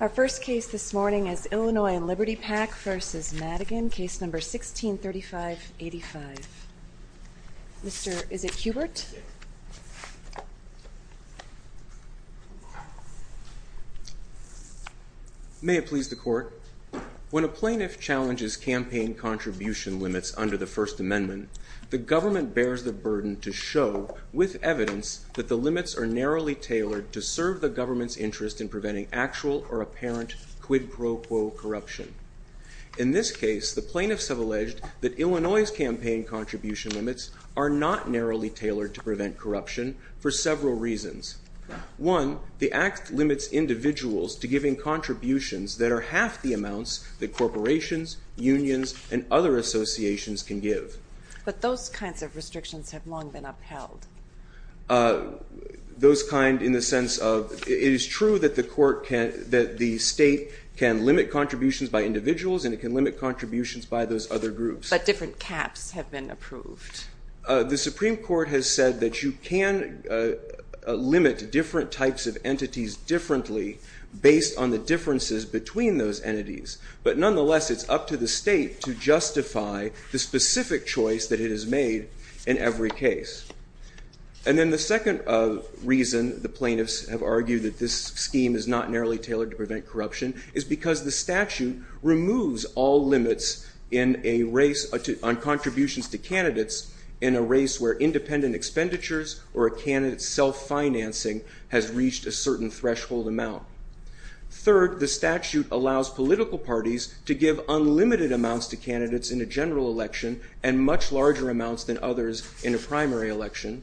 Our first case this morning is Illinois and Liberty PAC v. Madigan, Case No. 16-3585. Mr. is it Hubert? May it please the Court. When a plaintiff challenges campaign contribution limits under the First Amendment, the government bears the burden to show, with evidence, that the limits are narrowly tailored to serve the government's interest in preventing actual or apparent quid pro quo corruption. In this case, the plaintiffs have alleged that Illinois' campaign contribution limits are not narrowly tailored to prevent corruption for several reasons. One, the Act limits individuals to giving contributions that are half the amounts that corporations, unions, and other associations can give. But those kinds of restrictions have long been upheld. Those kind in the sense of it is true that the state can limit contributions by individuals and it can limit contributions by those other groups. But different caps have been approved. The Supreme Court has said that you can limit different types of entities differently based on the differences between those entities. But nonetheless, it's up to the state to justify the specific choice that it has made in every case. And then the second reason the plaintiffs have argued that this scheme is not narrowly tailored to prevent corruption is because the statute removes all limits on contributions to candidates in a race where independent expenditures or a candidate's self-financing has reached a certain threshold amount. Third, the statute allows political parties to give unlimited amounts to candidates in a general election and much larger amounts than others in a primary election.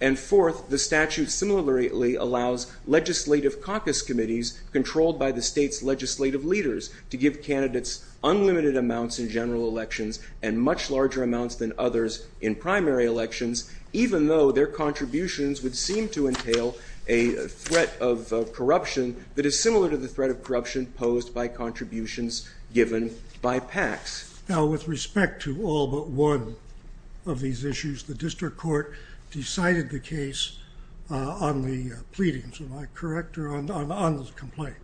And fourth, the statute similarly allows legislative caucus committees controlled by the state's legislative leaders to give candidates unlimited amounts in general elections and much larger amounts than others in primary elections, even though their contributions would seem to entail a threat of corruption that is similar to the threat of corruption posed by contributions given by PACs. Now, with respect to all but one of these issues, the district court decided the case on the pleadings, am I correct, or on the complaint?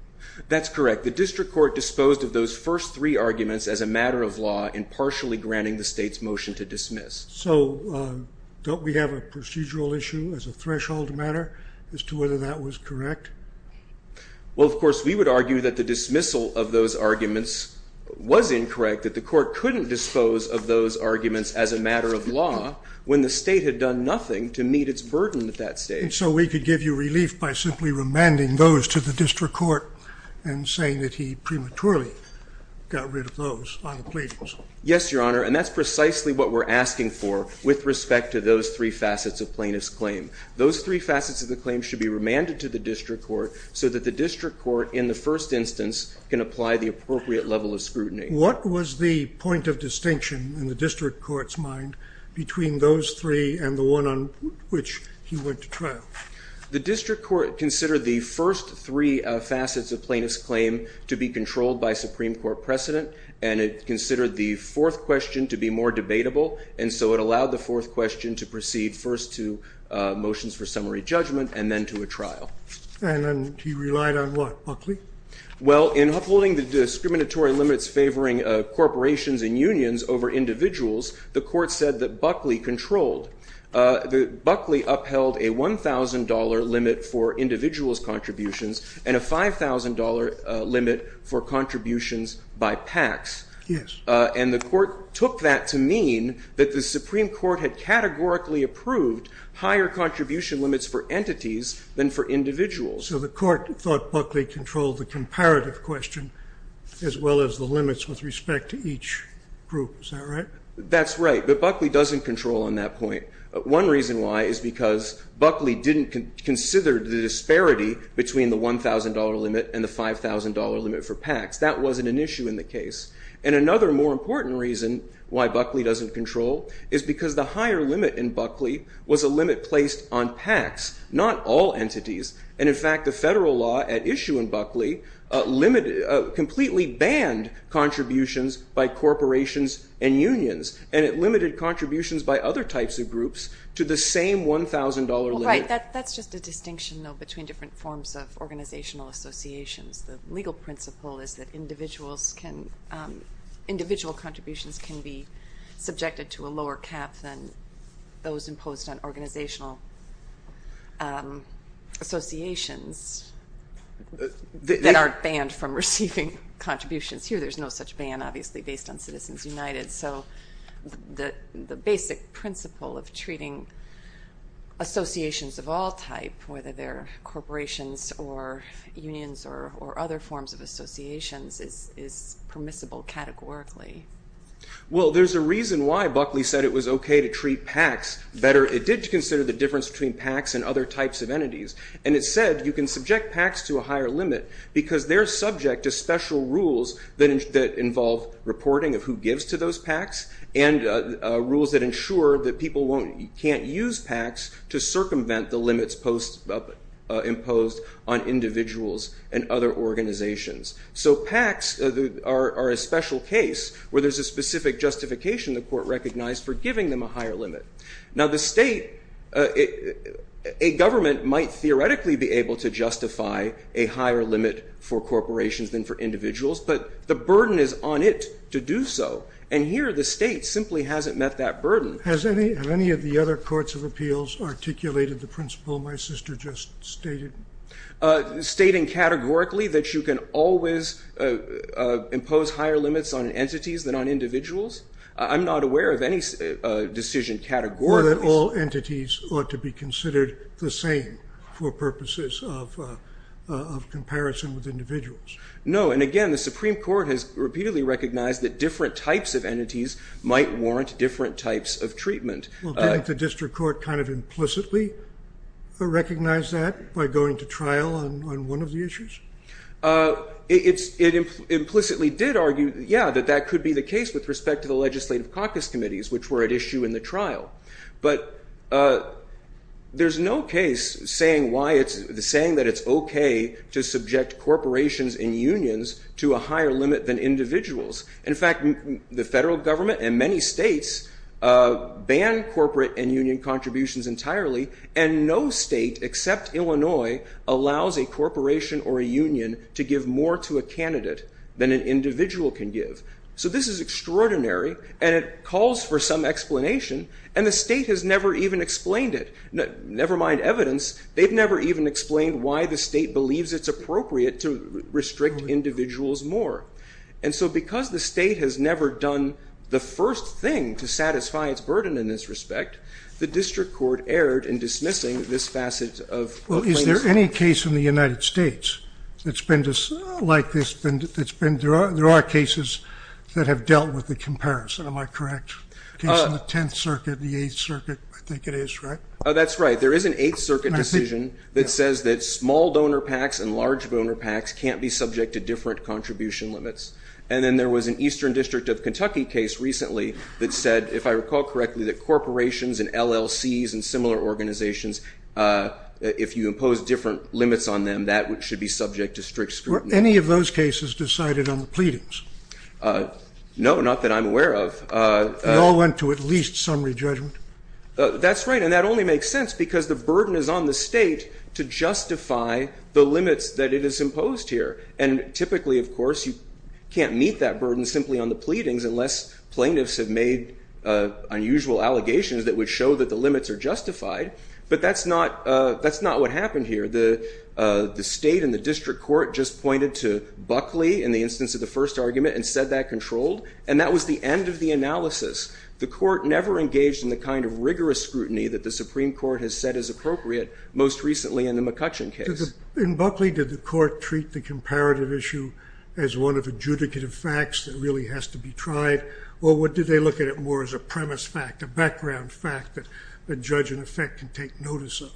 That's correct. The district court disposed of those first three arguments as a matter of law in partially granting the state's motion to dismiss. So don't we have a procedural issue as a threshold matter as to whether that was correct? Well, of course, we would argue that the dismissal of those arguments was incorrect, that the court couldn't dispose of those arguments as a matter of law when the state had done nothing to meet its burden at that stage. And so we could give you relief by simply remanding those to the district court and saying that he prematurely got rid of those on the pleadings. Yes, Your Honor, and that's precisely what we're asking for with respect to those three facets of plaintiff's claim. Those three facets of the claim should be remanded to the district court so that the district court in the first instance can apply the appropriate level of scrutiny. What was the point of distinction in the district court's mind between those three and the one on which he went to trial? The district court considered the first three facets of plaintiff's claim to be controlled by Supreme Court precedent, and it considered the fourth question to be more debatable. And so it allowed the fourth question to proceed first to motions for summary judgment and then to a trial. Well, in upholding the discriminatory limits favoring corporations and unions over individuals, the court said that Buckley controlled. Buckley upheld a $1,000 limit for individuals' contributions and a $5,000 limit for contributions by PACs. Yes. And the court took that to mean that the Supreme Court had categorically approved higher contribution limits for entities than for individuals. So the court thought Buckley controlled the comparative question as well as the limits with respect to each group. Is that right? That's right, but Buckley doesn't control on that point. One reason why is because Buckley didn't consider the disparity between the $1,000 limit and the $5,000 limit for PACs. That wasn't an issue in the case. And another more important reason why Buckley doesn't control is because the higher limit in Buckley was a limit placed on PACs, not all entities. And, in fact, the federal law at issue in Buckley completely banned contributions by corporations and unions, and it limited contributions by other types of groups to the same $1,000 limit. Well, right. That's just a distinction, though, between different forms of organizational associations. The legal principle is that individual contributions can be subjected to a lower cap than those imposed on organizational associations that are banned from receiving contributions. Here there's no such ban, obviously, based on Citizens United. So the basic principle of treating associations of all type, whether they're corporations or unions or other forms of associations, is permissible categorically. Well, there's a reason why Buckley said it was okay to treat PACs better. It did consider the difference between PACs and other types of entities, and it said you can subject PACs to a higher limit because they're subject to special rules that involve reporting of who gives to those PACs and rules that ensure that people can't use PACs to circumvent the limits imposed on individuals and other organizations. So PACs are a special case where there's a specific justification the court recognized for giving them a higher limit. Now, the state, a government might theoretically be able to justify a higher limit for corporations than for individuals, but the burden is on it to do so, and here the state simply hasn't met that burden. Has any of the other courts of appeals articulated the principle my sister just stated? Stating categorically that you can always impose higher limits on entities than on individuals? I'm not aware of any decision categorically. Or that all entities ought to be considered the same for purposes of comparison with individuals. No, and again, the Supreme Court has repeatedly recognized that different types of entities might warrant different types of treatment. Well, didn't the district court kind of implicitly recognize that by going to trial on one of the issues? It implicitly did argue, yeah, that that could be the case with respect to the legislative caucus committees, but there's no case saying that it's okay to subject corporations and unions to a higher limit than individuals. In fact, the federal government and many states ban corporate and union contributions entirely, and no state except Illinois allows a corporation or a union to give more to a candidate than an individual can give. So this is extraordinary, and it calls for some explanation, and the state has never even explained it. Never mind evidence. They've never even explained why the state believes it's appropriate to restrict individuals more. And so because the state has never done the first thing to satisfy its burden in this respect, the district court erred in dismissing this facet of claims. Well, is there any case in the United States that's been like this? There are cases that have dealt with the comparison, am I correct? The case in the 10th Circuit, the 8th Circuit, I think it is, right? Oh, that's right. There is an 8th Circuit decision that says that small donor packs and large donor packs can't be subject to different contribution limits. And then there was an Eastern District of Kentucky case recently that said, if I recall correctly, that corporations and LLCs and similar organizations, if you impose different limits on them, that should be subject to strict scrutiny. Were any of those cases decided on the pleadings? No, not that I'm aware of. They all went to at least summary judgment? That's right, and that only makes sense because the burden is on the state to justify the limits that it has imposed here. And typically, of course, you can't meet that burden simply on the pleadings unless plaintiffs have made unusual allegations that would show that the limits are justified. But that's not what happened here. The state and the district court just pointed to Buckley in the instance of the first argument and said that controlled, and that was the end of the analysis. The court never engaged in the kind of rigorous scrutiny that the Supreme Court has said is appropriate, most recently in the McCutcheon case. In Buckley, did the court treat the comparative issue as one of adjudicative facts that really has to be tried, or did they look at it more as a premise fact, a background fact that the judge, in effect, can take notice of?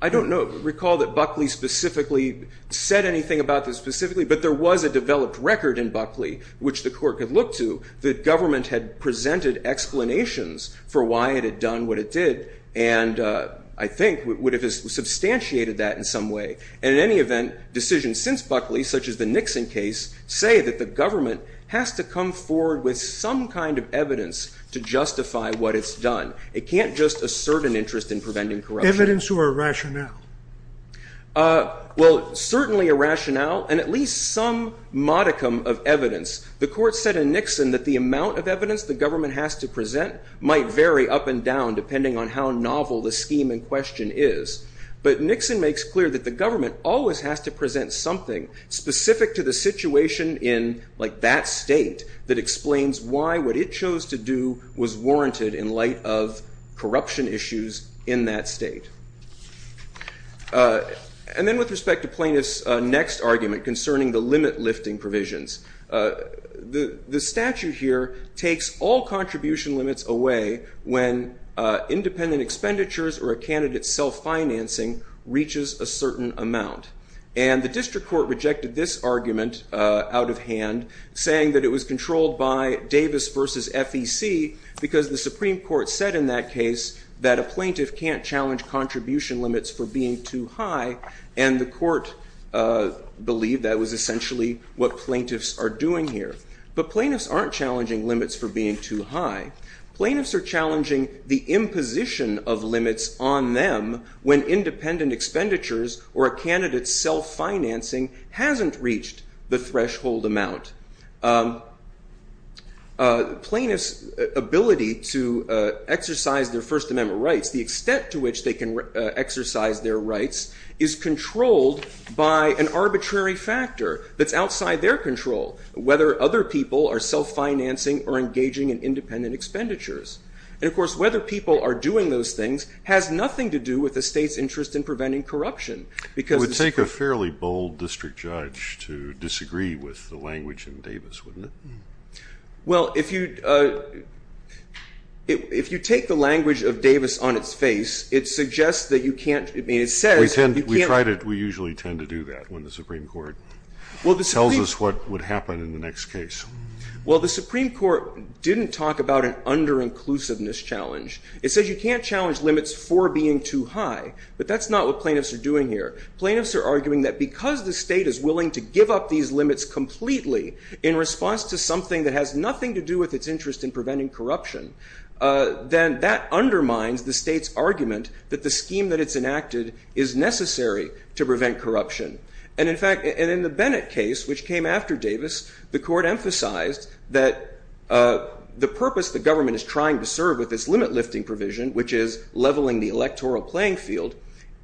I don't know. I don't recall that Buckley specifically said anything about this specifically, but there was a developed record in Buckley, which the court could look to, that government had presented explanations for why it had done what it did, and I think would have substantiated that in some way. And in any event, decisions since Buckley, such as the Nixon case, say that the government has to come forward with some kind of evidence to justify what it's done. It can't just assert an interest in preventing corruption. Evidence or a rationale? Well, certainly a rationale, and at least some modicum of evidence. The court said in Nixon that the amount of evidence the government has to present might vary up and down, depending on how novel the scheme in question is. But Nixon makes clear that the government always has to present something specific to the situation in, like, corruption issues in that state. And then with respect to Plaintiff's next argument concerning the limit-lifting provisions, the statute here takes all contribution limits away when independent expenditures or a candidate's self-financing reaches a certain amount. And the district court rejected this argument out of hand, saying that it was controlled by Davis versus FEC, because the Supreme Court said in that case that a plaintiff can't challenge contribution limits for being too high, and the court believed that was essentially what plaintiffs are doing here. But plaintiffs aren't challenging limits for being too high. Plaintiffs are challenging the imposition of limits on them when independent expenditures or a candidate's self-financing hasn't reached the threshold amount. Plaintiffs' ability to exercise their First Amendment rights, the extent to which they can exercise their rights, is controlled by an arbitrary factor that's outside their control, whether other people are self-financing or engaging in independent expenditures. And, of course, whether people are doing those things has nothing to do with the state's interest in preventing corruption. It would take a fairly bold district judge to disagree with the language in Davis, wouldn't it? Well, if you take the language of Davis on its face, it suggests that you can't. We usually tend to do that when the Supreme Court tells us what would happen in the next case. Well, the Supreme Court didn't talk about an under-inclusiveness challenge. It says you can't challenge limits for being too high, but that's not what plaintiffs are doing here. Plaintiffs are arguing that because the state is willing to give up these limits completely in response to something that has nothing to do with its interest in preventing corruption, then that undermines the state's argument that the scheme that it's enacted is necessary to prevent corruption. And, in fact, in the Bennett case, which came after Davis, the court emphasized that the purpose the government is trying to serve with this limit-lifting provision, which is leveling the electoral playing field,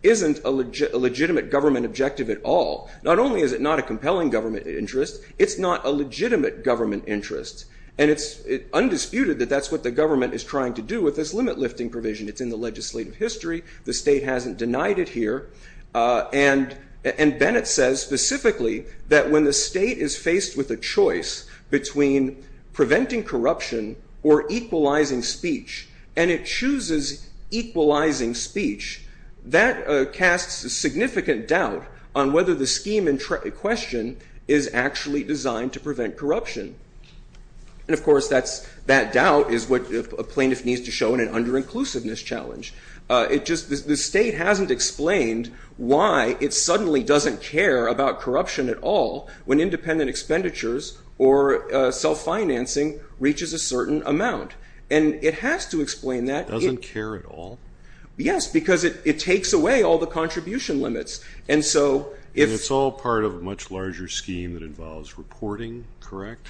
isn't a legitimate government objective at all. Not only is it not a compelling government interest, it's not a legitimate government interest. And it's undisputed that that's what the government is trying to do with this limit-lifting provision. It's in the legislative history. The state hasn't denied it here. And Bennett says specifically that when the state is faced with a choice between preventing corruption or equalizing speech, and it chooses equalizing speech, that casts a significant doubt on whether the scheme in question is actually designed to prevent corruption. And, of course, that doubt is what a plaintiff needs to show in an under-inclusiveness challenge. The state hasn't explained why it suddenly doesn't care about corruption at all when independent expenditures or self-financing reaches a certain amount. And it has to explain that. It doesn't care at all? Yes, because it takes away all the contribution limits. And it's all part of a much larger scheme that involves reporting, correct?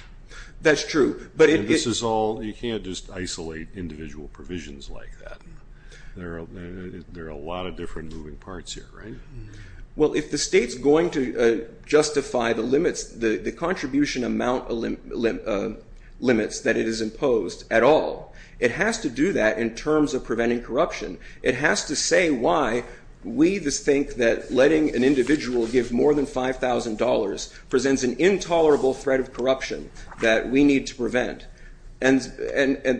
That's true. You can't just isolate individual provisions like that. There are a lot of different moving parts here, right? Well, if the state's going to justify the limits, the contribution amount limits that it has imposed at all, it has to do that in terms of preventing corruption. It has to say why we think that letting an individual give more than $5,000 presents an intolerable threat of corruption that we need to prevent. And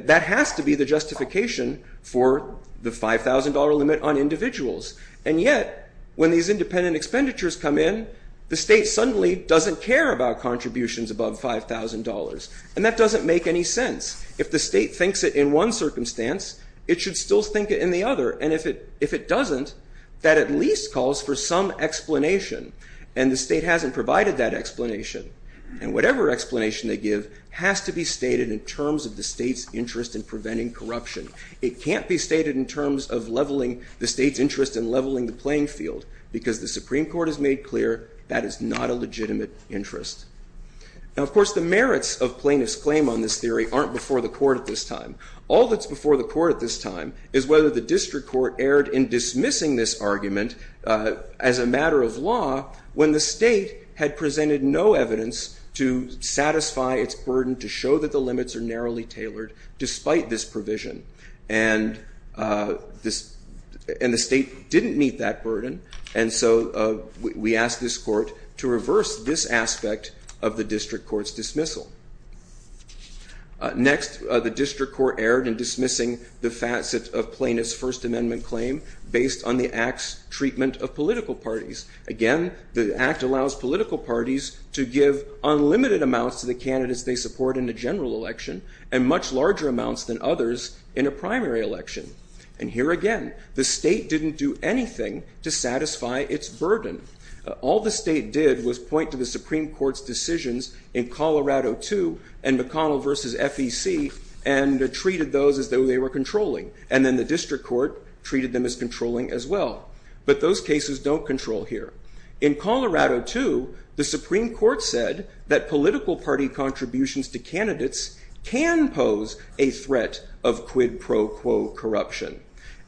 that has to be the justification for the $5,000 limit on individuals. And yet, when these independent expenditures come in, the state suddenly doesn't care about contributions above $5,000. And that doesn't make any sense. If the state thinks it in one circumstance, it should still think it in the other. And if it doesn't, that at least calls for some explanation. And the state hasn't provided that explanation. And whatever explanation they give has to be stated in terms of the state's interest in preventing corruption. It can't be stated in terms of leveling the state's interest in leveling the playing field because the Supreme Court has made clear that is not a legitimate interest. Now, of course, the merits of plaintiff's claim on this theory aren't before the court at this time. All that's before the court at this time is whether the district court erred in dismissing this argument as a matter of law when the state had presented no evidence to satisfy its burden to show that the limits are narrowly tailored despite this provision. And the state didn't meet that burden. And so we asked this court to reverse this aspect of the district court's dismissal. Next, the district court erred in dismissing the facet of plaintiff's First Amendment claim based on the Act's treatment of political parties. Again, the Act allows political parties to give unlimited amounts to the candidates they support in a general election and much larger amounts than others in a primary election. And here again, the state didn't do anything to satisfy its burden. All the state did was point to the Supreme Court's decisions in Colorado 2 and McConnell v. FEC and treated those as though they were controlling. And then the district court treated them as controlling as well. But those cases don't control here. In Colorado 2, the Supreme Court said that political party contributions to candidates can pose a threat of quid pro quo corruption.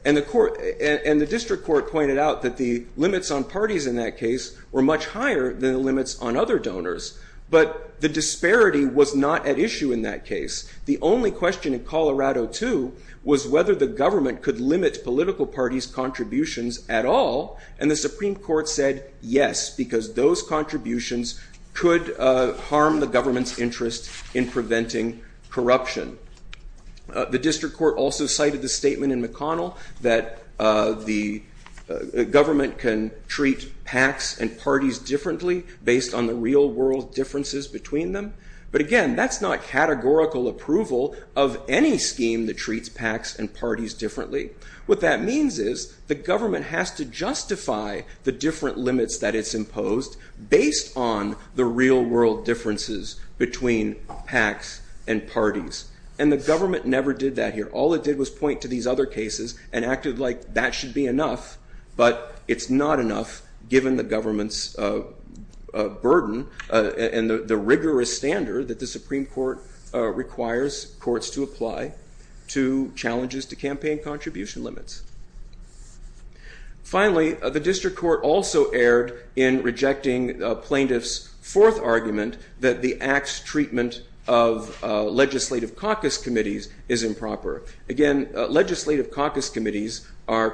And the district court pointed out that the limits on parties in that case were much higher than the limits on other donors. But the disparity was not at issue in that case. The only question in Colorado 2 was whether the government could limit its political party's contributions at all. And the Supreme Court said yes, because those contributions could harm the government's interest in preventing corruption. The district court also cited the statement in McConnell that the government can treat PACs and parties differently based on the real world differences between them. But again, that's not categorical approval of any scheme that treats PACs and parties differently. What that means is the government has to justify the different limits that it's imposed based on the real world differences between PACs and parties. And the government never did that here. All it did was point to these other cases and acted like that should be enough. But it's not enough given the government's burden and the rigorous standard that the Supreme Court requires courts to apply to challenges to campaign contribution limits. Finally, the district court also erred in rejecting plaintiffs' fourth argument that the act's treatment of legislative caucus committees is improper. Again, legislative caucus committees are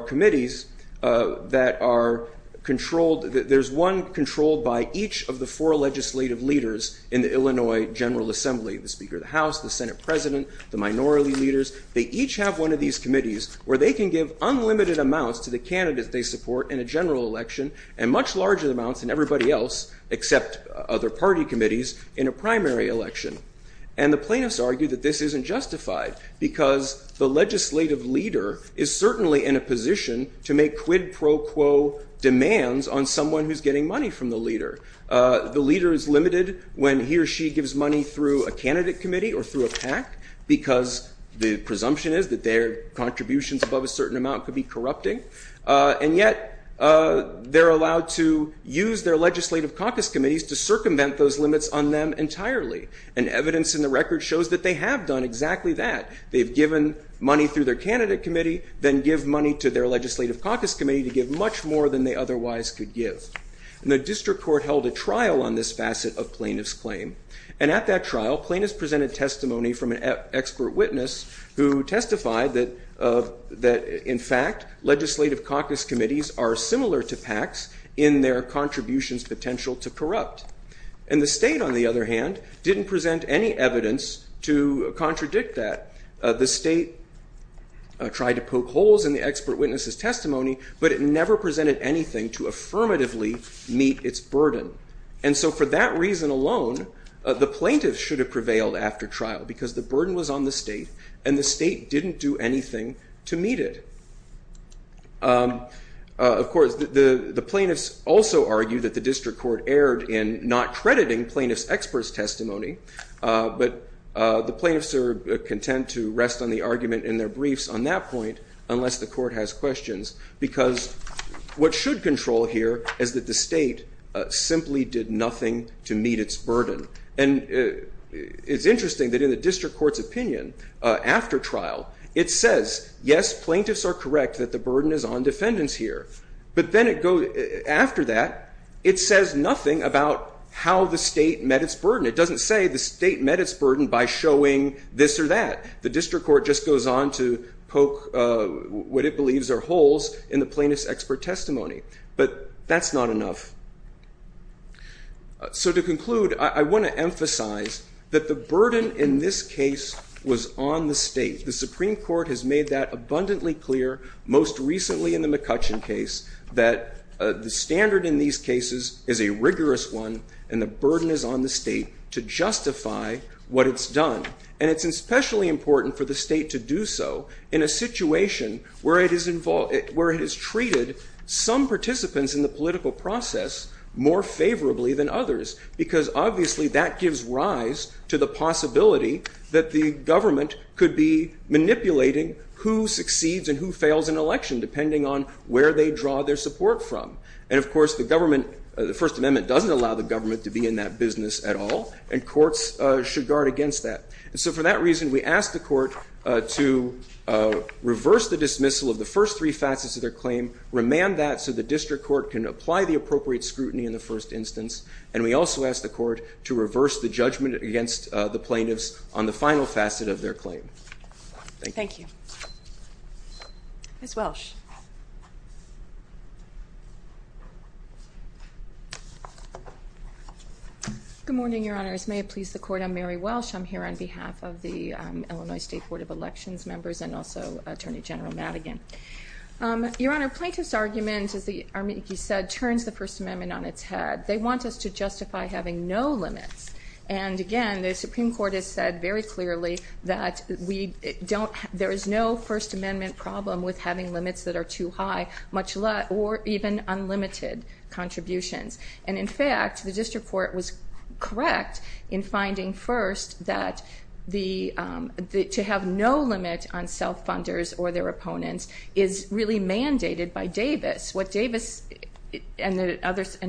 committees that are controlled. There's one controlled by each of the four legislative leaders in the Illinois General Assembly, the Speaker of the House, the Senate President, the minority leaders. They each have one of these committees where they can give unlimited amounts to the candidates they support in a general election and much larger amounts than everybody else except other party committees in a primary election. And the plaintiffs argue that this isn't justified because the legislative leader is certainly in a position to make quid pro quo demands on someone who's getting money from the leader. The leader is limited when he or she gives money through a candidate committee or through a PAC because the presumption is that their contributions above a certain amount could be corrupting. And yet they're allowed to use their legislative caucus committees to circumvent those limits on them entirely. And evidence in the record shows that they have done exactly that. They've given money through their candidate committee, then give money to their legislative caucus committee to give much more than they otherwise could give. And the district court held a trial on this facet of plaintiffs' claim. And at that trial, plaintiffs presented testimony from an expert witness who testified that, in fact, legislative caucus committees are similar to PACs in their contributions' potential to corrupt. And the state, on the other hand, didn't present any evidence to contradict that. The state tried to poke holes in the expert witness' testimony, but it never presented anything to affirmatively meet its burden. And so for that reason alone, the plaintiffs should have prevailed after trial because the burden was on the state, and the state didn't do anything to meet it. Of course, the plaintiffs also argue that the district court erred in not crediting plaintiffs' experts' testimony, but the plaintiffs are content to rest on the argument in their briefs on that point unless the court has questions, because what should control here is that the state simply did nothing to meet its burden. And it's interesting that in the district court's opinion after trial, it says, yes, plaintiffs are correct that the burden is on defendants here. But then after that, it says nothing about how the state met its burden. It doesn't say the state met its burden by showing this or that. The district court just goes on to poke what it believes are holes in the plaintiff's expert testimony. But that's not enough. So to conclude, I want to emphasize that the burden in this case was on the state. The Supreme Court has made that abundantly clear, most recently in the McCutcheon case, that the standard in these cases is a rigorous one, and the burden is on the state to justify what it's done. And it's especially important for the state to do so in a situation where it has treated some participants in the political process more favorably than others, because obviously that gives rise to the possibility that the government could be manipulating who succeeds and who fails in an election, depending on where they draw their support from. And of course, the government, the First Amendment doesn't allow the government to be in that business at all, and courts should guard against that. And so for that reason, we ask the court to reverse the dismissal of the first three facets of their claim, remand that so the district court can apply the appropriate scrutiny in the first instance. And we also ask the court to reverse the judgment against the plaintiffs on the final facet of their claim. Thank you. Thank you. Ms. Welsh. Good morning, Your Honor. As may it please the court, I'm Mary Welsh. I'm here on behalf of the Illinois State Board of Elections members and also Attorney General Madigan. Your Honor, plaintiff's argument, as he said, turns the First Amendment on its head. They want us to justify having no limits, and again the Supreme Court has said very clearly that there is no First Amendment problem with having limits that are too high or even unlimited contributions. And in fact, the district court was correct in finding first that to have no limit on self-funders or their opponents is really mandated by Davis. What Davis and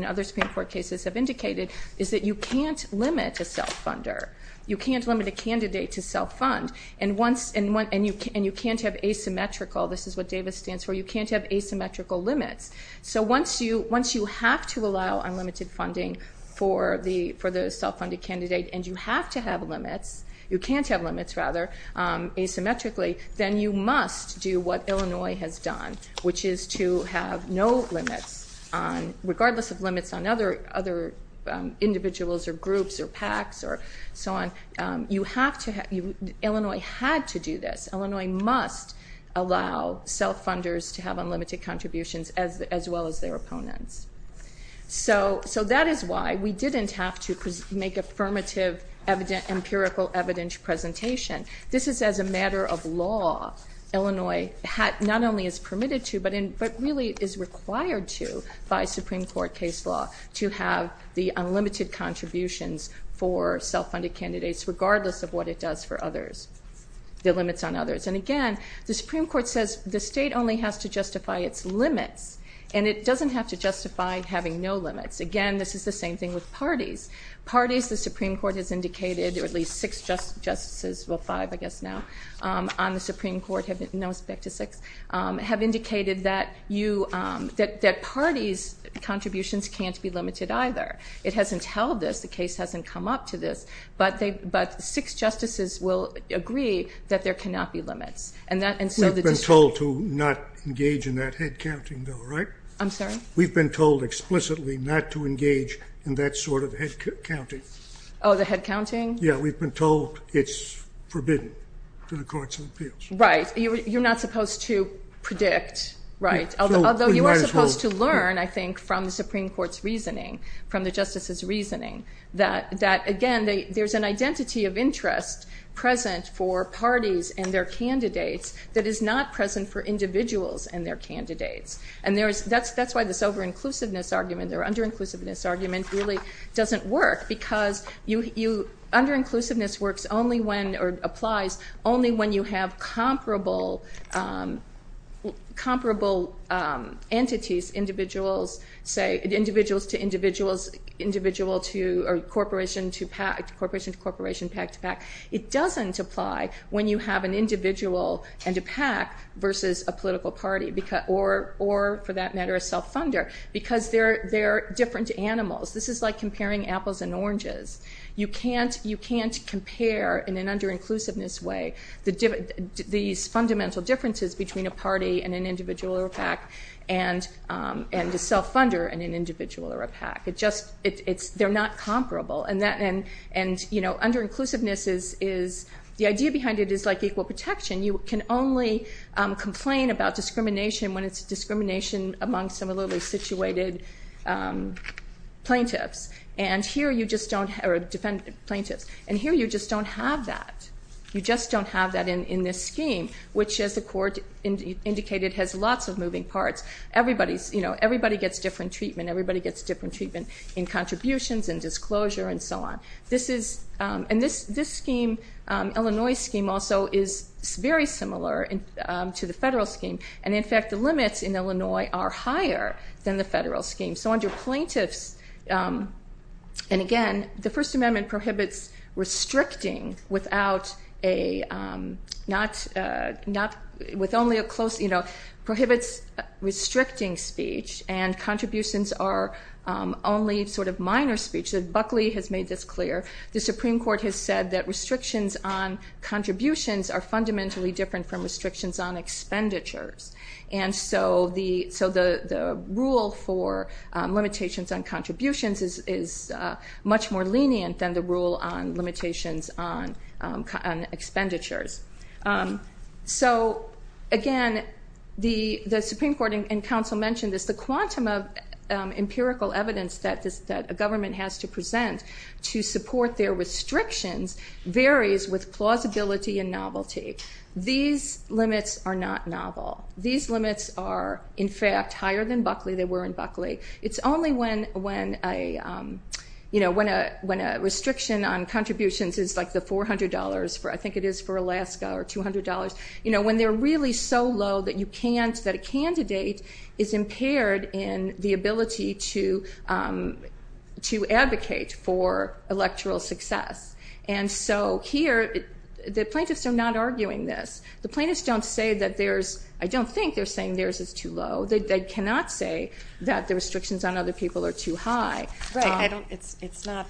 other Supreme Court cases have indicated is that you can't limit a self-funder, you can't limit a candidate to self-fund, and you can't have asymmetrical, this is what Davis stands for, you can't have asymmetrical limits. So once you have to allow unlimited funding for the self-funded candidate and you have to have limits, you can't have limits rather, asymmetrically, then you must do what Illinois has done, which is to have no limits, regardless of limits on other individuals or groups or PACs or so on. Illinois had to do this. Illinois must allow self-funders to have unlimited contributions as well as their opponents. So that is why we didn't have to make affirmative empirical evidence presentation. This is as a matter of law, Illinois not only is permitted to, but really is required to by Supreme Court case law to have the unlimited contributions for self-funded candidates regardless of what it does for others, the limits on others. And again, the Supreme Court says the state only has to justify its limits, and it doesn't have to justify having no limits. Again, this is the same thing with parties. Parties, the Supreme Court has indicated, or at least six justices, well, five I guess now on the Supreme Court, now it's back to six, have indicated that parties' contributions can't be limited either. It hasn't held this. The case hasn't come up to this. But six justices will agree that there cannot be limits. We've been told to not engage in that head counting, though, right? I'm sorry? We've been told explicitly not to engage in that sort of head counting. Oh, the head counting? Yeah, we've been told it's forbidden to the courts of appeals. Right. You're not supposed to predict, right? Although you are supposed to learn, I think, from the Supreme Court's reasoning, from the justices' reasoning, that, again, there's an identity of interest present for parties and their candidates that is not present for individuals and their candidates. And that's why this over-inclusiveness argument or under-inclusiveness argument really doesn't work because under-inclusiveness applies only when you have comparable entities, individuals to individuals, corporation to corporation, pack to pack. It doesn't apply when you have an individual and a pack versus a political party or, for that matter, a self-funder because they're different animals. This is like comparing apples and oranges. You can't compare, in an under-inclusiveness way, these fundamental differences between a party and an individual or a pack and a self-funder and an individual or a pack. They're not comparable. And under-inclusiveness is the idea behind it is like equal protection. You can only complain about discrimination when it's discrimination among similarly situated plaintiffs. And here you just don't have that. You just don't have that in this scheme, which, as the Court indicated, has lots of moving parts. Everybody gets different treatment. Everybody gets different treatment in contributions and disclosure and so on. And this scheme, Illinois scheme, also is very similar to the federal scheme. And, in fact, the limits in Illinois are higher than the federal scheme. So under plaintiffs, and again, the First Amendment prohibits restricting without a not with only a close, you know, prohibits restricting speech and contributions are only sort of minor speech. Buckley has made this clear. The Supreme Court has said that restrictions on contributions are fundamentally different from restrictions on expenditures. And so the rule for limitations on contributions is much more lenient than the rule on limitations on expenditures. So, again, the Supreme Court and counsel mentioned this. The quantum of empirical evidence that a government has to present to support their restrictions varies with plausibility and novelty. These limits are not novel. These limits are, in fact, higher than Buckley. They were in Buckley. It's only when a restriction on contributions is like the $400, I think it is for Alaska, or $200. You know, when they're really so low that you can't, that a candidate is impaired in the ability to advocate for electoral success. And so here the plaintiffs are not arguing this. The plaintiffs don't say that there's, I don't think they're saying theirs is too low. They cannot say that the restrictions on other people are too high. Right. It's not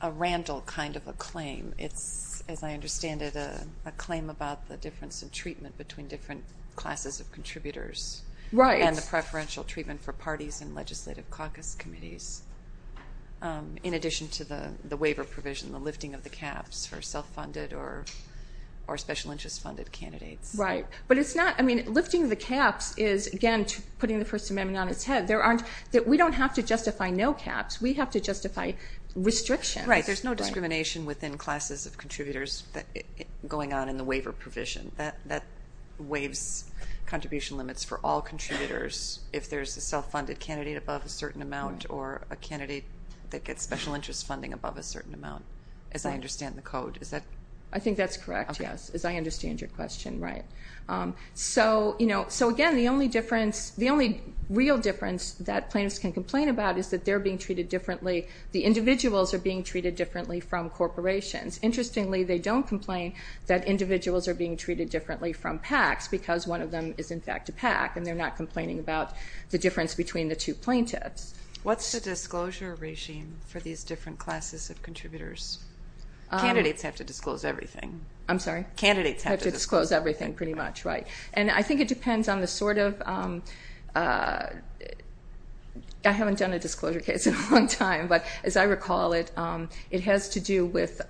a randle kind of a claim. It's, as I understand it, a claim about the difference in treatment between different classes of contributors and the preferential treatment for parties and legislative caucus committees, in addition to the waiver provision, the lifting of the caps for self-funded or special interest funded candidates. Right. But it's not, I mean, lifting the caps is, again, putting the First Amendment on its head. We don't have to justify no caps. We have to justify restrictions. Right, there's no discrimination within classes of contributors going on in the waiver provision. That waives contribution limits for all contributors if there's a self-funded candidate above a certain amount or a candidate that gets special interest funding above a certain amount, as I understand the code. Is that? I think that's correct, yes, as I understand your question, right. So, again, the only difference, the only real difference that plaintiffs can complain about is that they're being treated differently. The individuals are being treated differently from corporations. Interestingly, they don't complain that individuals are being treated differently from PACs because one of them is, in fact, a PAC, and they're not complaining about the difference between the two plaintiffs. What's the disclosure regime for these different classes of contributors? Candidates have to disclose everything. I'm sorry? Candidates have to disclose everything. Have to disclose everything, pretty much, right. And I think it depends on the sort of, I haven't done a disclosure case in a long time, but as I recall it, it has to do with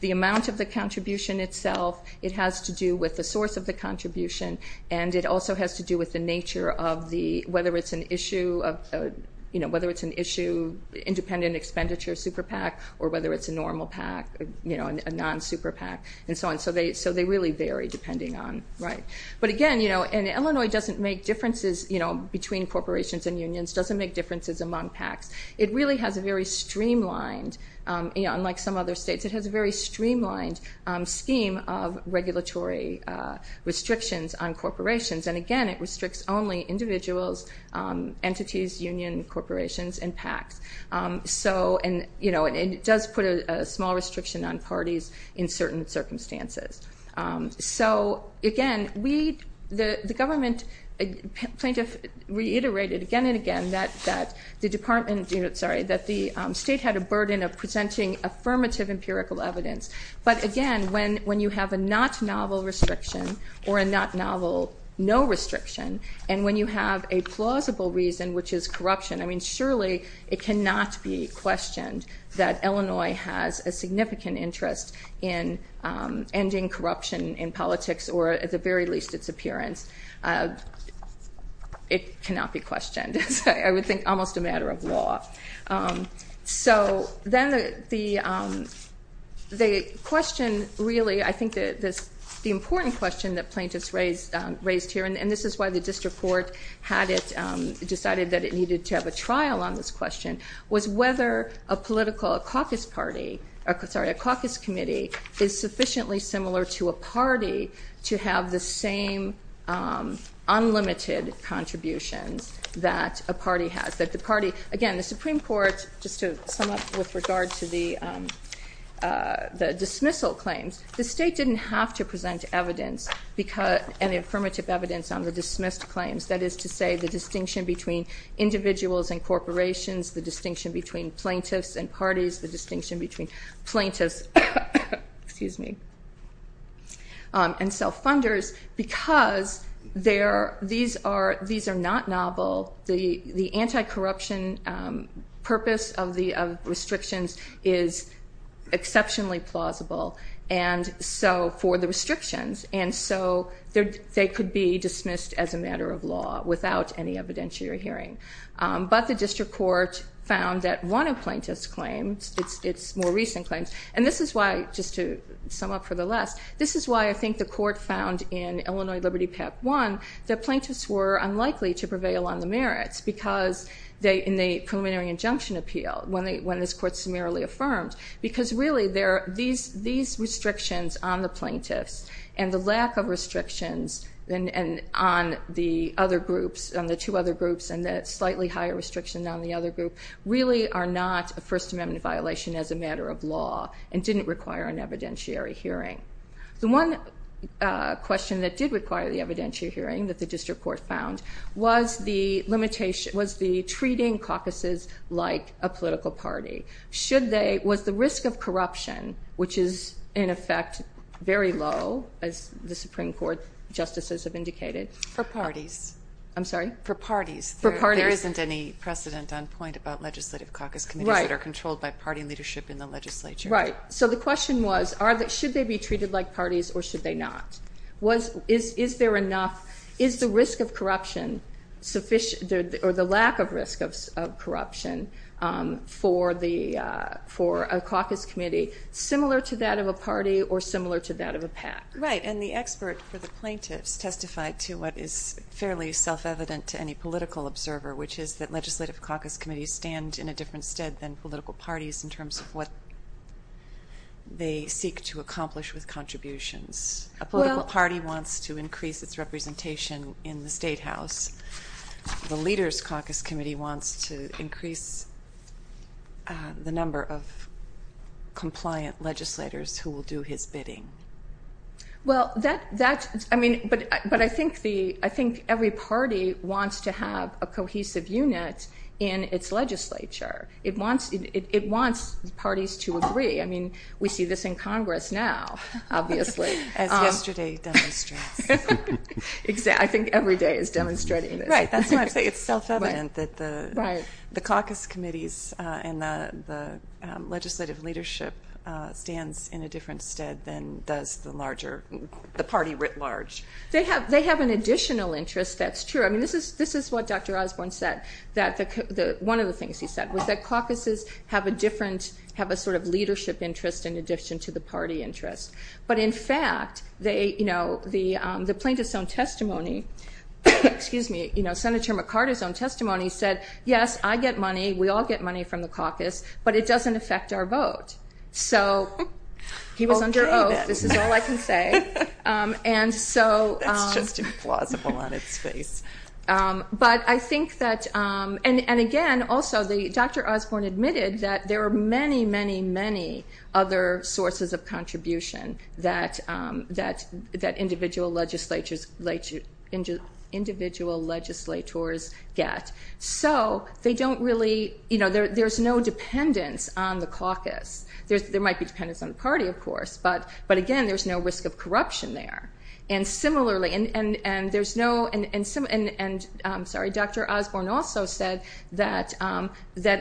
the amount of the contribution itself, it has to do with the source of the contribution, and it also has to do with the nature of the, whether it's an issue of, you know, whether it's an issue, independent expenditure super PAC, or whether it's a normal PAC, you know, a non-super PAC, and so on. So they really vary depending on, right. But, again, you know, and Illinois doesn't make differences, you know, between corporations and unions, doesn't make differences among PACs. It really has a very streamlined, you know, unlike some other states, it has a very streamlined scheme of regulatory restrictions on corporations. And, again, it restricts only individuals, entities, union, corporations, and PACs. So, and, you know, it does put a small restriction on parties in certain circumstances. So, again, we, the government plaintiff reiterated again and again that the department, sorry, that the state had a burden of presenting affirmative empirical evidence. But, again, when you have a not novel restriction or a not novel no restriction, and when you have a plausible reason, which is corruption, I mean, surely it cannot be questioned that Illinois has a significant interest in ending corruption in politics, or at the very least its appearance. It cannot be questioned, I would think, almost a matter of law. So then the question really, I think the important question that plaintiffs raised here, and this is why the district court had it, decided that it needed to have a trial on this question, was whether a political, a caucus party, or, sorry, a caucus committee is sufficiently similar to a party to have the same unlimited contributions that a party has, that the party, again, the Supreme Court, just to sum up with regard to the dismissal claims, the state didn't have to present evidence, and affirmative evidence, on the dismissed claims, that is to say the distinction between individuals and corporations, the distinction between plaintiffs and parties, the distinction between plaintiffs and self-funders, because these are not novel, the anti-corruption purpose of the restrictions is exceptionally plausible, and so for the restrictions, and so they could be dismissed as a matter of law without any evidentiary hearing. But the district court found that one of plaintiff's claims, it's more recent claims, and this is why, just to sum up for the last, this is why I think the court found in Illinois Liberty PAC 1, that plaintiffs were unlikely to prevail on the merits, because in the preliminary injunction appeal, when this court summarily affirmed, because really these restrictions on the plaintiffs, and the lack of restrictions on the two other groups, and the slightly higher restriction on the other group, really are not a First Amendment violation as a matter of law, and didn't require an evidentiary hearing. The one question that did require the evidentiary hearing, that the district court found, was the treating caucuses like a political party. Was the risk of corruption, which is in effect very low, as the Supreme Court justices have indicated. For parties. I'm sorry? For parties. There isn't any precedent on point about legislative caucus committees that are controlled by party leadership in the legislature. Right. So the question was, should they be treated like parties, or should they not? Is there enough, is the risk of corruption sufficient, or the lack of risk of corruption, for a caucus committee similar to that of a party, or similar to that of a PAC? Right. And the expert for the plaintiffs testified to what is fairly self-evident to any political observer, which is that legislative caucus committees stand in a different stead than political parties in terms of what they seek to accomplish with contributions. A political party wants to increase its representation in the State House. The leaders' caucus committee wants to increase the number of compliant legislators who will do his bidding. Well, that's, I mean, but I think every party wants to have a cohesive unit in its legislature. It wants parties to agree. I mean, we see this in Congress now, obviously. As yesterday demonstrates. I think every day is demonstrating this. Right, that's why I say it's self-evident that the caucus committees and the legislative leadership stands in a different stead than does the larger, the party writ large. They have an additional interest, that's true. I mean, this is what Dr. Osborne said, that one of the things he said was that caucuses have a different, have a sort of leadership interest in addition to the party interest. But in fact, the plaintiff's own testimony, excuse me, Senator McCarty's own testimony said, yes, I get money, we all get money from the caucus, but it doesn't affect our vote. So he was under oath, this is all I can say. That's just implausible on its face. But I think that, and again, also Dr. Osborne admitted that there are many, many, many other sources of contribution. That individual legislators get. So they don't really, you know, there's no dependence on the caucus. There might be dependence on the party, of course, but again, there's no risk of corruption there. And similarly, and there's no, and I'm sorry, Dr. Osborne also said that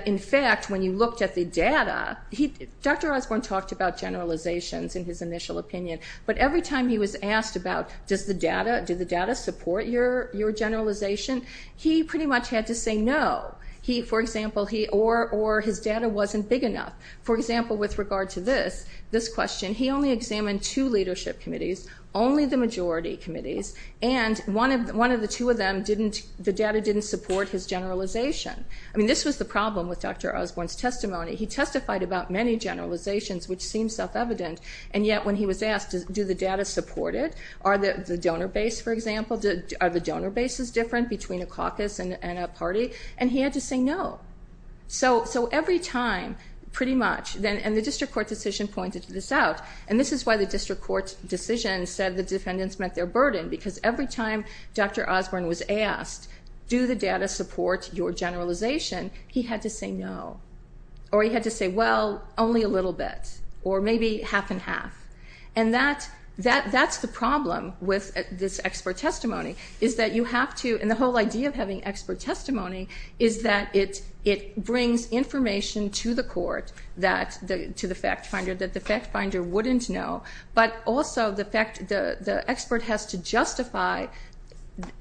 in fact, when you looked at the data, Dr. Osborne talked about generalizations in his initial opinion, but every time he was asked about, does the data, does the data support your generalization, he pretty much had to say no. He, for example, he, or his data wasn't big enough. For example, with regard to this, this question, he only examined two leadership committees, only the majority committees, and one of the two of them didn't, the data didn't support his generalization. I mean, this was the problem with Dr. Osborne's testimony. He testified about many generalizations, which seemed self-evident, and yet when he was asked, do the data support it, are the donor base, for example, are the donor bases different between a caucus and a party, and he had to say no. So every time, pretty much, and the district court decision pointed this out, and this is why the district court decision said the defendants met their burden, because every time Dr. Osborne was asked, do the data support your generalization, he had to say no, or he had to say, well, only a little bit, or maybe half and half, and that's the problem with this expert testimony, is that you have to, and the whole idea of having expert testimony is that it brings information to the court, to the fact finder, that the fact finder wouldn't know, but also the fact the expert has to justify,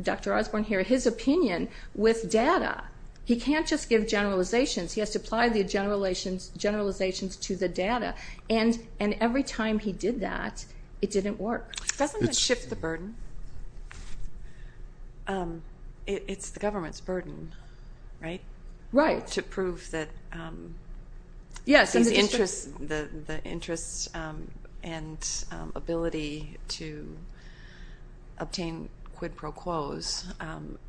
Dr. Osborne here, his opinion with data. He can't just give generalizations. He has to apply the generalizations to the data, and every time he did that, it didn't work. Doesn't it shift the burden? It's the government's burden, right? Right. To prove that the interest and ability to obtain quid pro quos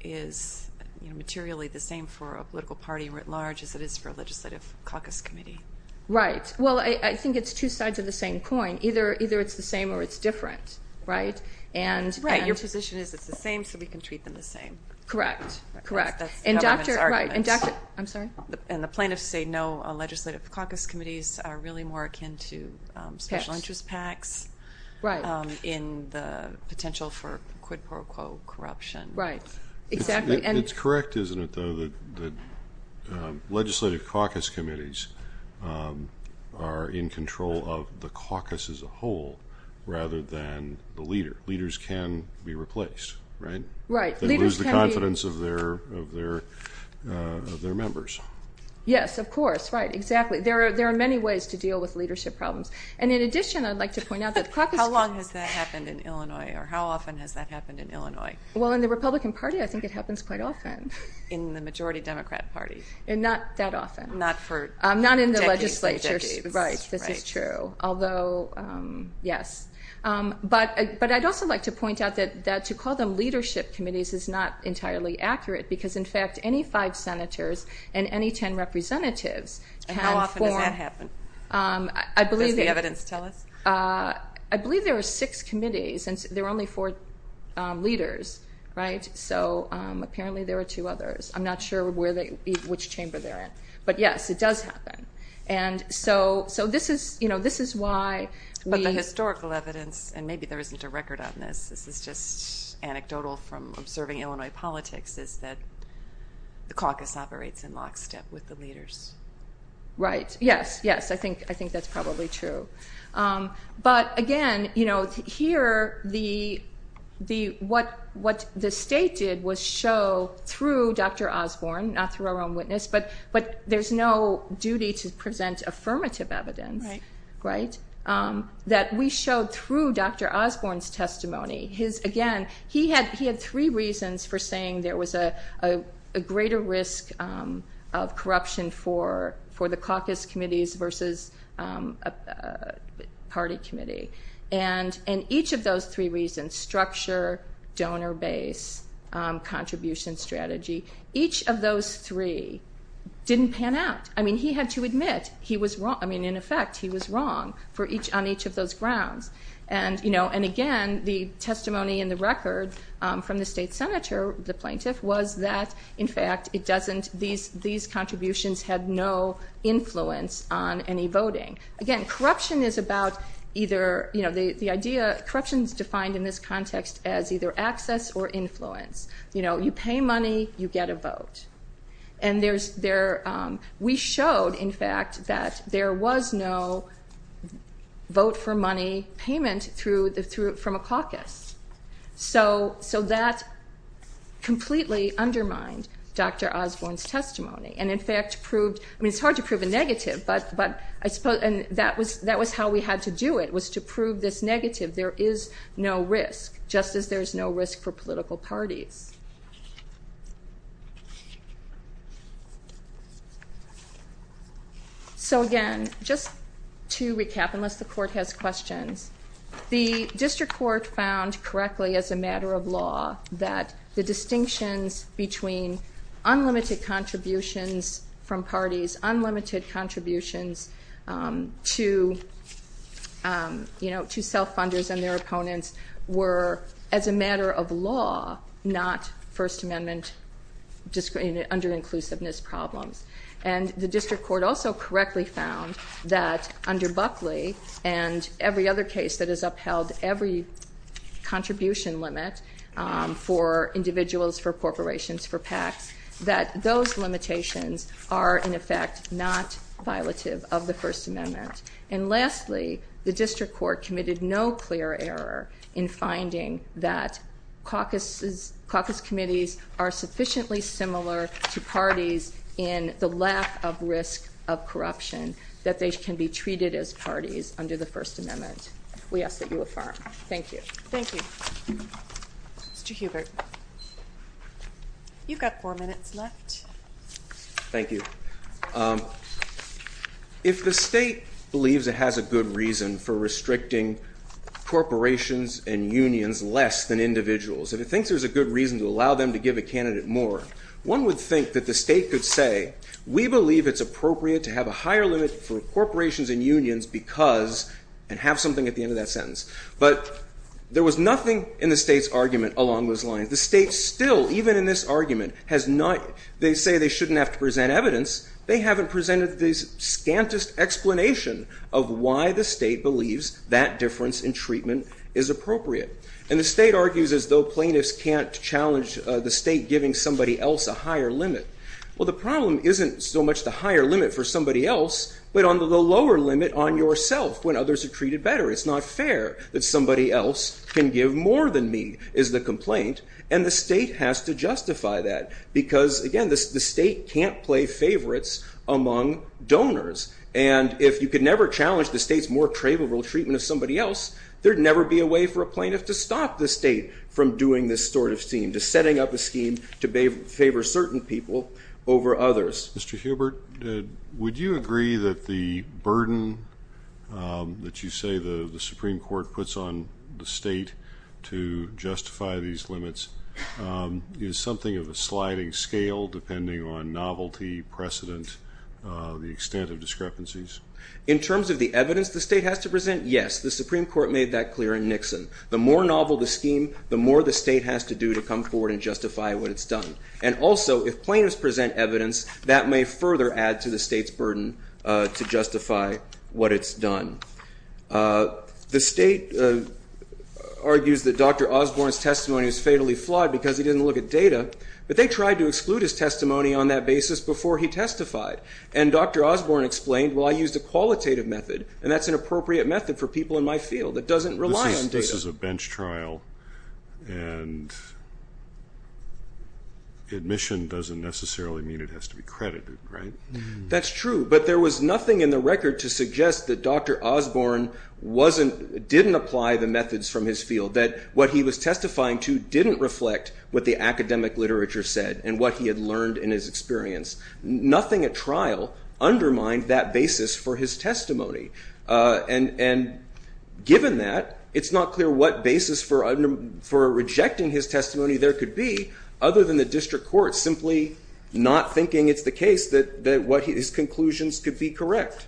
is materially the same for a political party writ large as it is for a legislative caucus committee. Right. Well, I think it's two sides of the same coin. Either it's the same or it's different, right? Right. Your position is it's the same, so we can treat them the same. Correct. Correct. That's the government's argument. Right. I'm sorry? And the plaintiffs say no, legislative caucus committees are really more akin to special interest PACs. Right. In the potential for quid pro quo corruption. Right. Exactly. It's correct, isn't it, though, that legislative caucus committees are in control of the caucus as a whole rather than the leader. Leaders can be replaced, right? Right. They lose the confidence of their members. Yes, of course. Right. Exactly. There are many ways to deal with leadership problems. And, in addition, I'd like to point out that caucus committees How long has that happened in Illinois, or how often has that happened in Illinois? Well, in the Republican Party, I think it happens quite often. In the majority Democrat Party. Not that often. Not for decades and decades. Right. This is true. Although, yes. But I'd also like to point out that to call them leadership committees is not entirely accurate because, in fact, any five senators and any ten representatives can form And how often does that happen? Does the evidence tell us? I believe there are six committees, and there are only four leaders, right? So apparently there are two others. I'm not sure which chamber they're in. But, yes, it does happen. And so this is why we The historical evidence, and maybe there isn't a record on this, this is just anecdotal from observing Illinois politics, is that the caucus operates in lockstep with the leaders. Right. Yes, yes. I think that's probably true. But, again, here, what the state did was show, through Dr. Osborne, not through our own witness, but there's no duty to present affirmative evidence Right. that we showed through Dr. Osborne's testimony. Again, he had three reasons for saying there was a greater risk of corruption for the caucus committees versus a party committee. And each of those three reasons, structure, donor base, contribution strategy, each of those three didn't pan out. I mean, he had to admit he was wrong. I mean, in effect, he was wrong on each of those grounds. And, again, the testimony in the record from the state senator, the plaintiff, was that, in fact, these contributions had no influence on any voting. Again, corruption is about either the idea Corruption is defined in this context as either access or influence. You pay money, you get a vote. We showed, in fact, that there was no vote-for-money payment from a caucus. So that completely undermined Dr. Osborne's testimony. And, in fact, it's hard to prove a negative, and that was how we had to do it, was to prove this negative. There is no risk, just as there's no risk for political parties. So, again, just to recap, unless the court has questions, the district court found correctly as a matter of law that the distinctions between unlimited contributions from parties, unlimited contributions to self-funders and their opponents were, as a matter of law, not First Amendment under-inclusiveness problems. And the district court also correctly found that under Buckley and every other case that has upheld every contribution limit for individuals, for corporations, for PACs, that those limitations are, in effect, not violative of the First Amendment. And, lastly, the district court committed no clear error in finding that caucus committees are sufficiently similar to parties in the lack of risk of corruption that they can be treated as parties under the First Amendment. We ask that you affirm. Thank you. Thank you. Mr. Hubert, you've got four minutes left. Thank you. If the state believes it has a good reason for restricting corporations and unions less than individuals, if it thinks there's a good reason to allow them to give a candidate more, one would think that the state could say, we believe it's appropriate to have a higher limit for corporations and unions because... and have something at the end of that sentence. But there was nothing in the state's argument along those lines. The state still, even in this argument, has not... they haven't presented the scantest explanation of why the state believes that difference in treatment is appropriate. And the state argues as though plaintiffs can't challenge the state giving somebody else a higher limit. Well, the problem isn't so much the higher limit for somebody else, but on the lower limit on yourself when others are treated better. It's not fair that somebody else can give more than me, is the complaint. And the state has to justify that because, again, the state can't play favorites among donors. And if you could never challenge the state's more favorable treatment of somebody else, there'd never be a way for a plaintiff to stop the state from doing this sort of scheme, to setting up a scheme to favor certain people over others. Mr. Hubert, would you agree that the burden that you say the Supreme Court puts on the state to justify these limits is something of a sliding scale depending on novelty, precedent, the extent of discrepancies? In terms of the evidence the state has to present, yes, the Supreme Court made that clear in Nixon. The more novel the scheme, the more the state has to do to come forward and justify what it's done. And also, if plaintiffs present evidence, that may further add to the state's burden to justify what it's done. The state argues that Dr. Osborne's testimony was fatally flawed because he didn't look at data, but they tried to exclude his testimony on that basis before he testified. And Dr. Osborne explained, well, I used a qualitative method, and that's an appropriate method for people in my field. It doesn't rely on data. This is a bench trial, and admission doesn't necessarily mean it has to be credited, right? That's true. But there was nothing in the record to suggest that Dr. Osborne didn't apply the methods from his field, that what he was testifying to didn't reflect what the academic literature said and what he had learned in his experience. Nothing at trial undermined that basis for his testimony. And given that, it's not clear what basis for rejecting his testimony there could be other than the district court simply not thinking it's the case that his conclusions could be correct.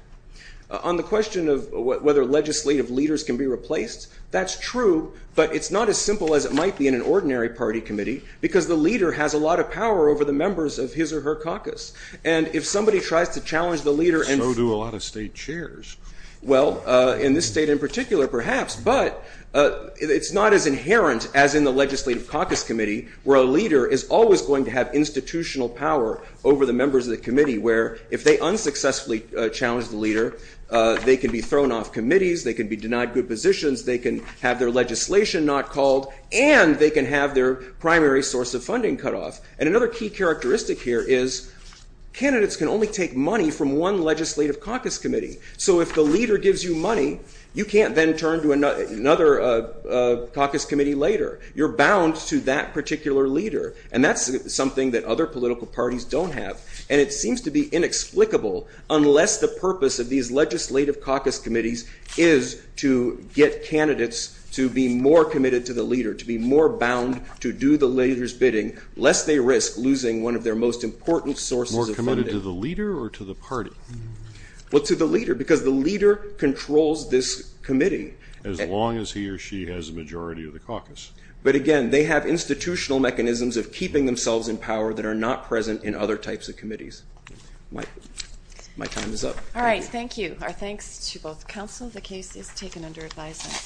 On the question of whether legislative leaders can be replaced, that's true, but it's not as simple as it might be in an ordinary party committee because the leader has a lot of power over the members of his or her caucus. And if somebody tries to challenge the leader and... So do a lot of state chairs. Well, in this state in particular, perhaps, but it's not as inherent as in the legislative caucus committee where a leader is always going to have institutional power over the members of the committee where if they unsuccessfully challenge the leader, they can be thrown off committees, they can be denied good positions, they can have their legislation not called, and they can have their primary source of funding cut off. And another key characteristic here is candidates can only take money from one legislative caucus committee. So if the leader gives you money, you can't then turn to another caucus committee later. You're bound to that particular leader. And that's something that other political parties don't have, and it seems to be inexplicable unless the purpose of these legislative caucus committees is to get candidates to be more committed to the leader, to be more bound to do the leader's bidding, lest they risk losing one of their most important sources of funding. More committed to the leader or to the party? Well, to the leader because the leader controls this committee. As long as he or she has a majority of the caucus. But again, they have institutional mechanisms of keeping themselves in power that are not present in other types of committees. My time is up. All right, thank you. Our thanks to both counsel. The case is taken under advisement.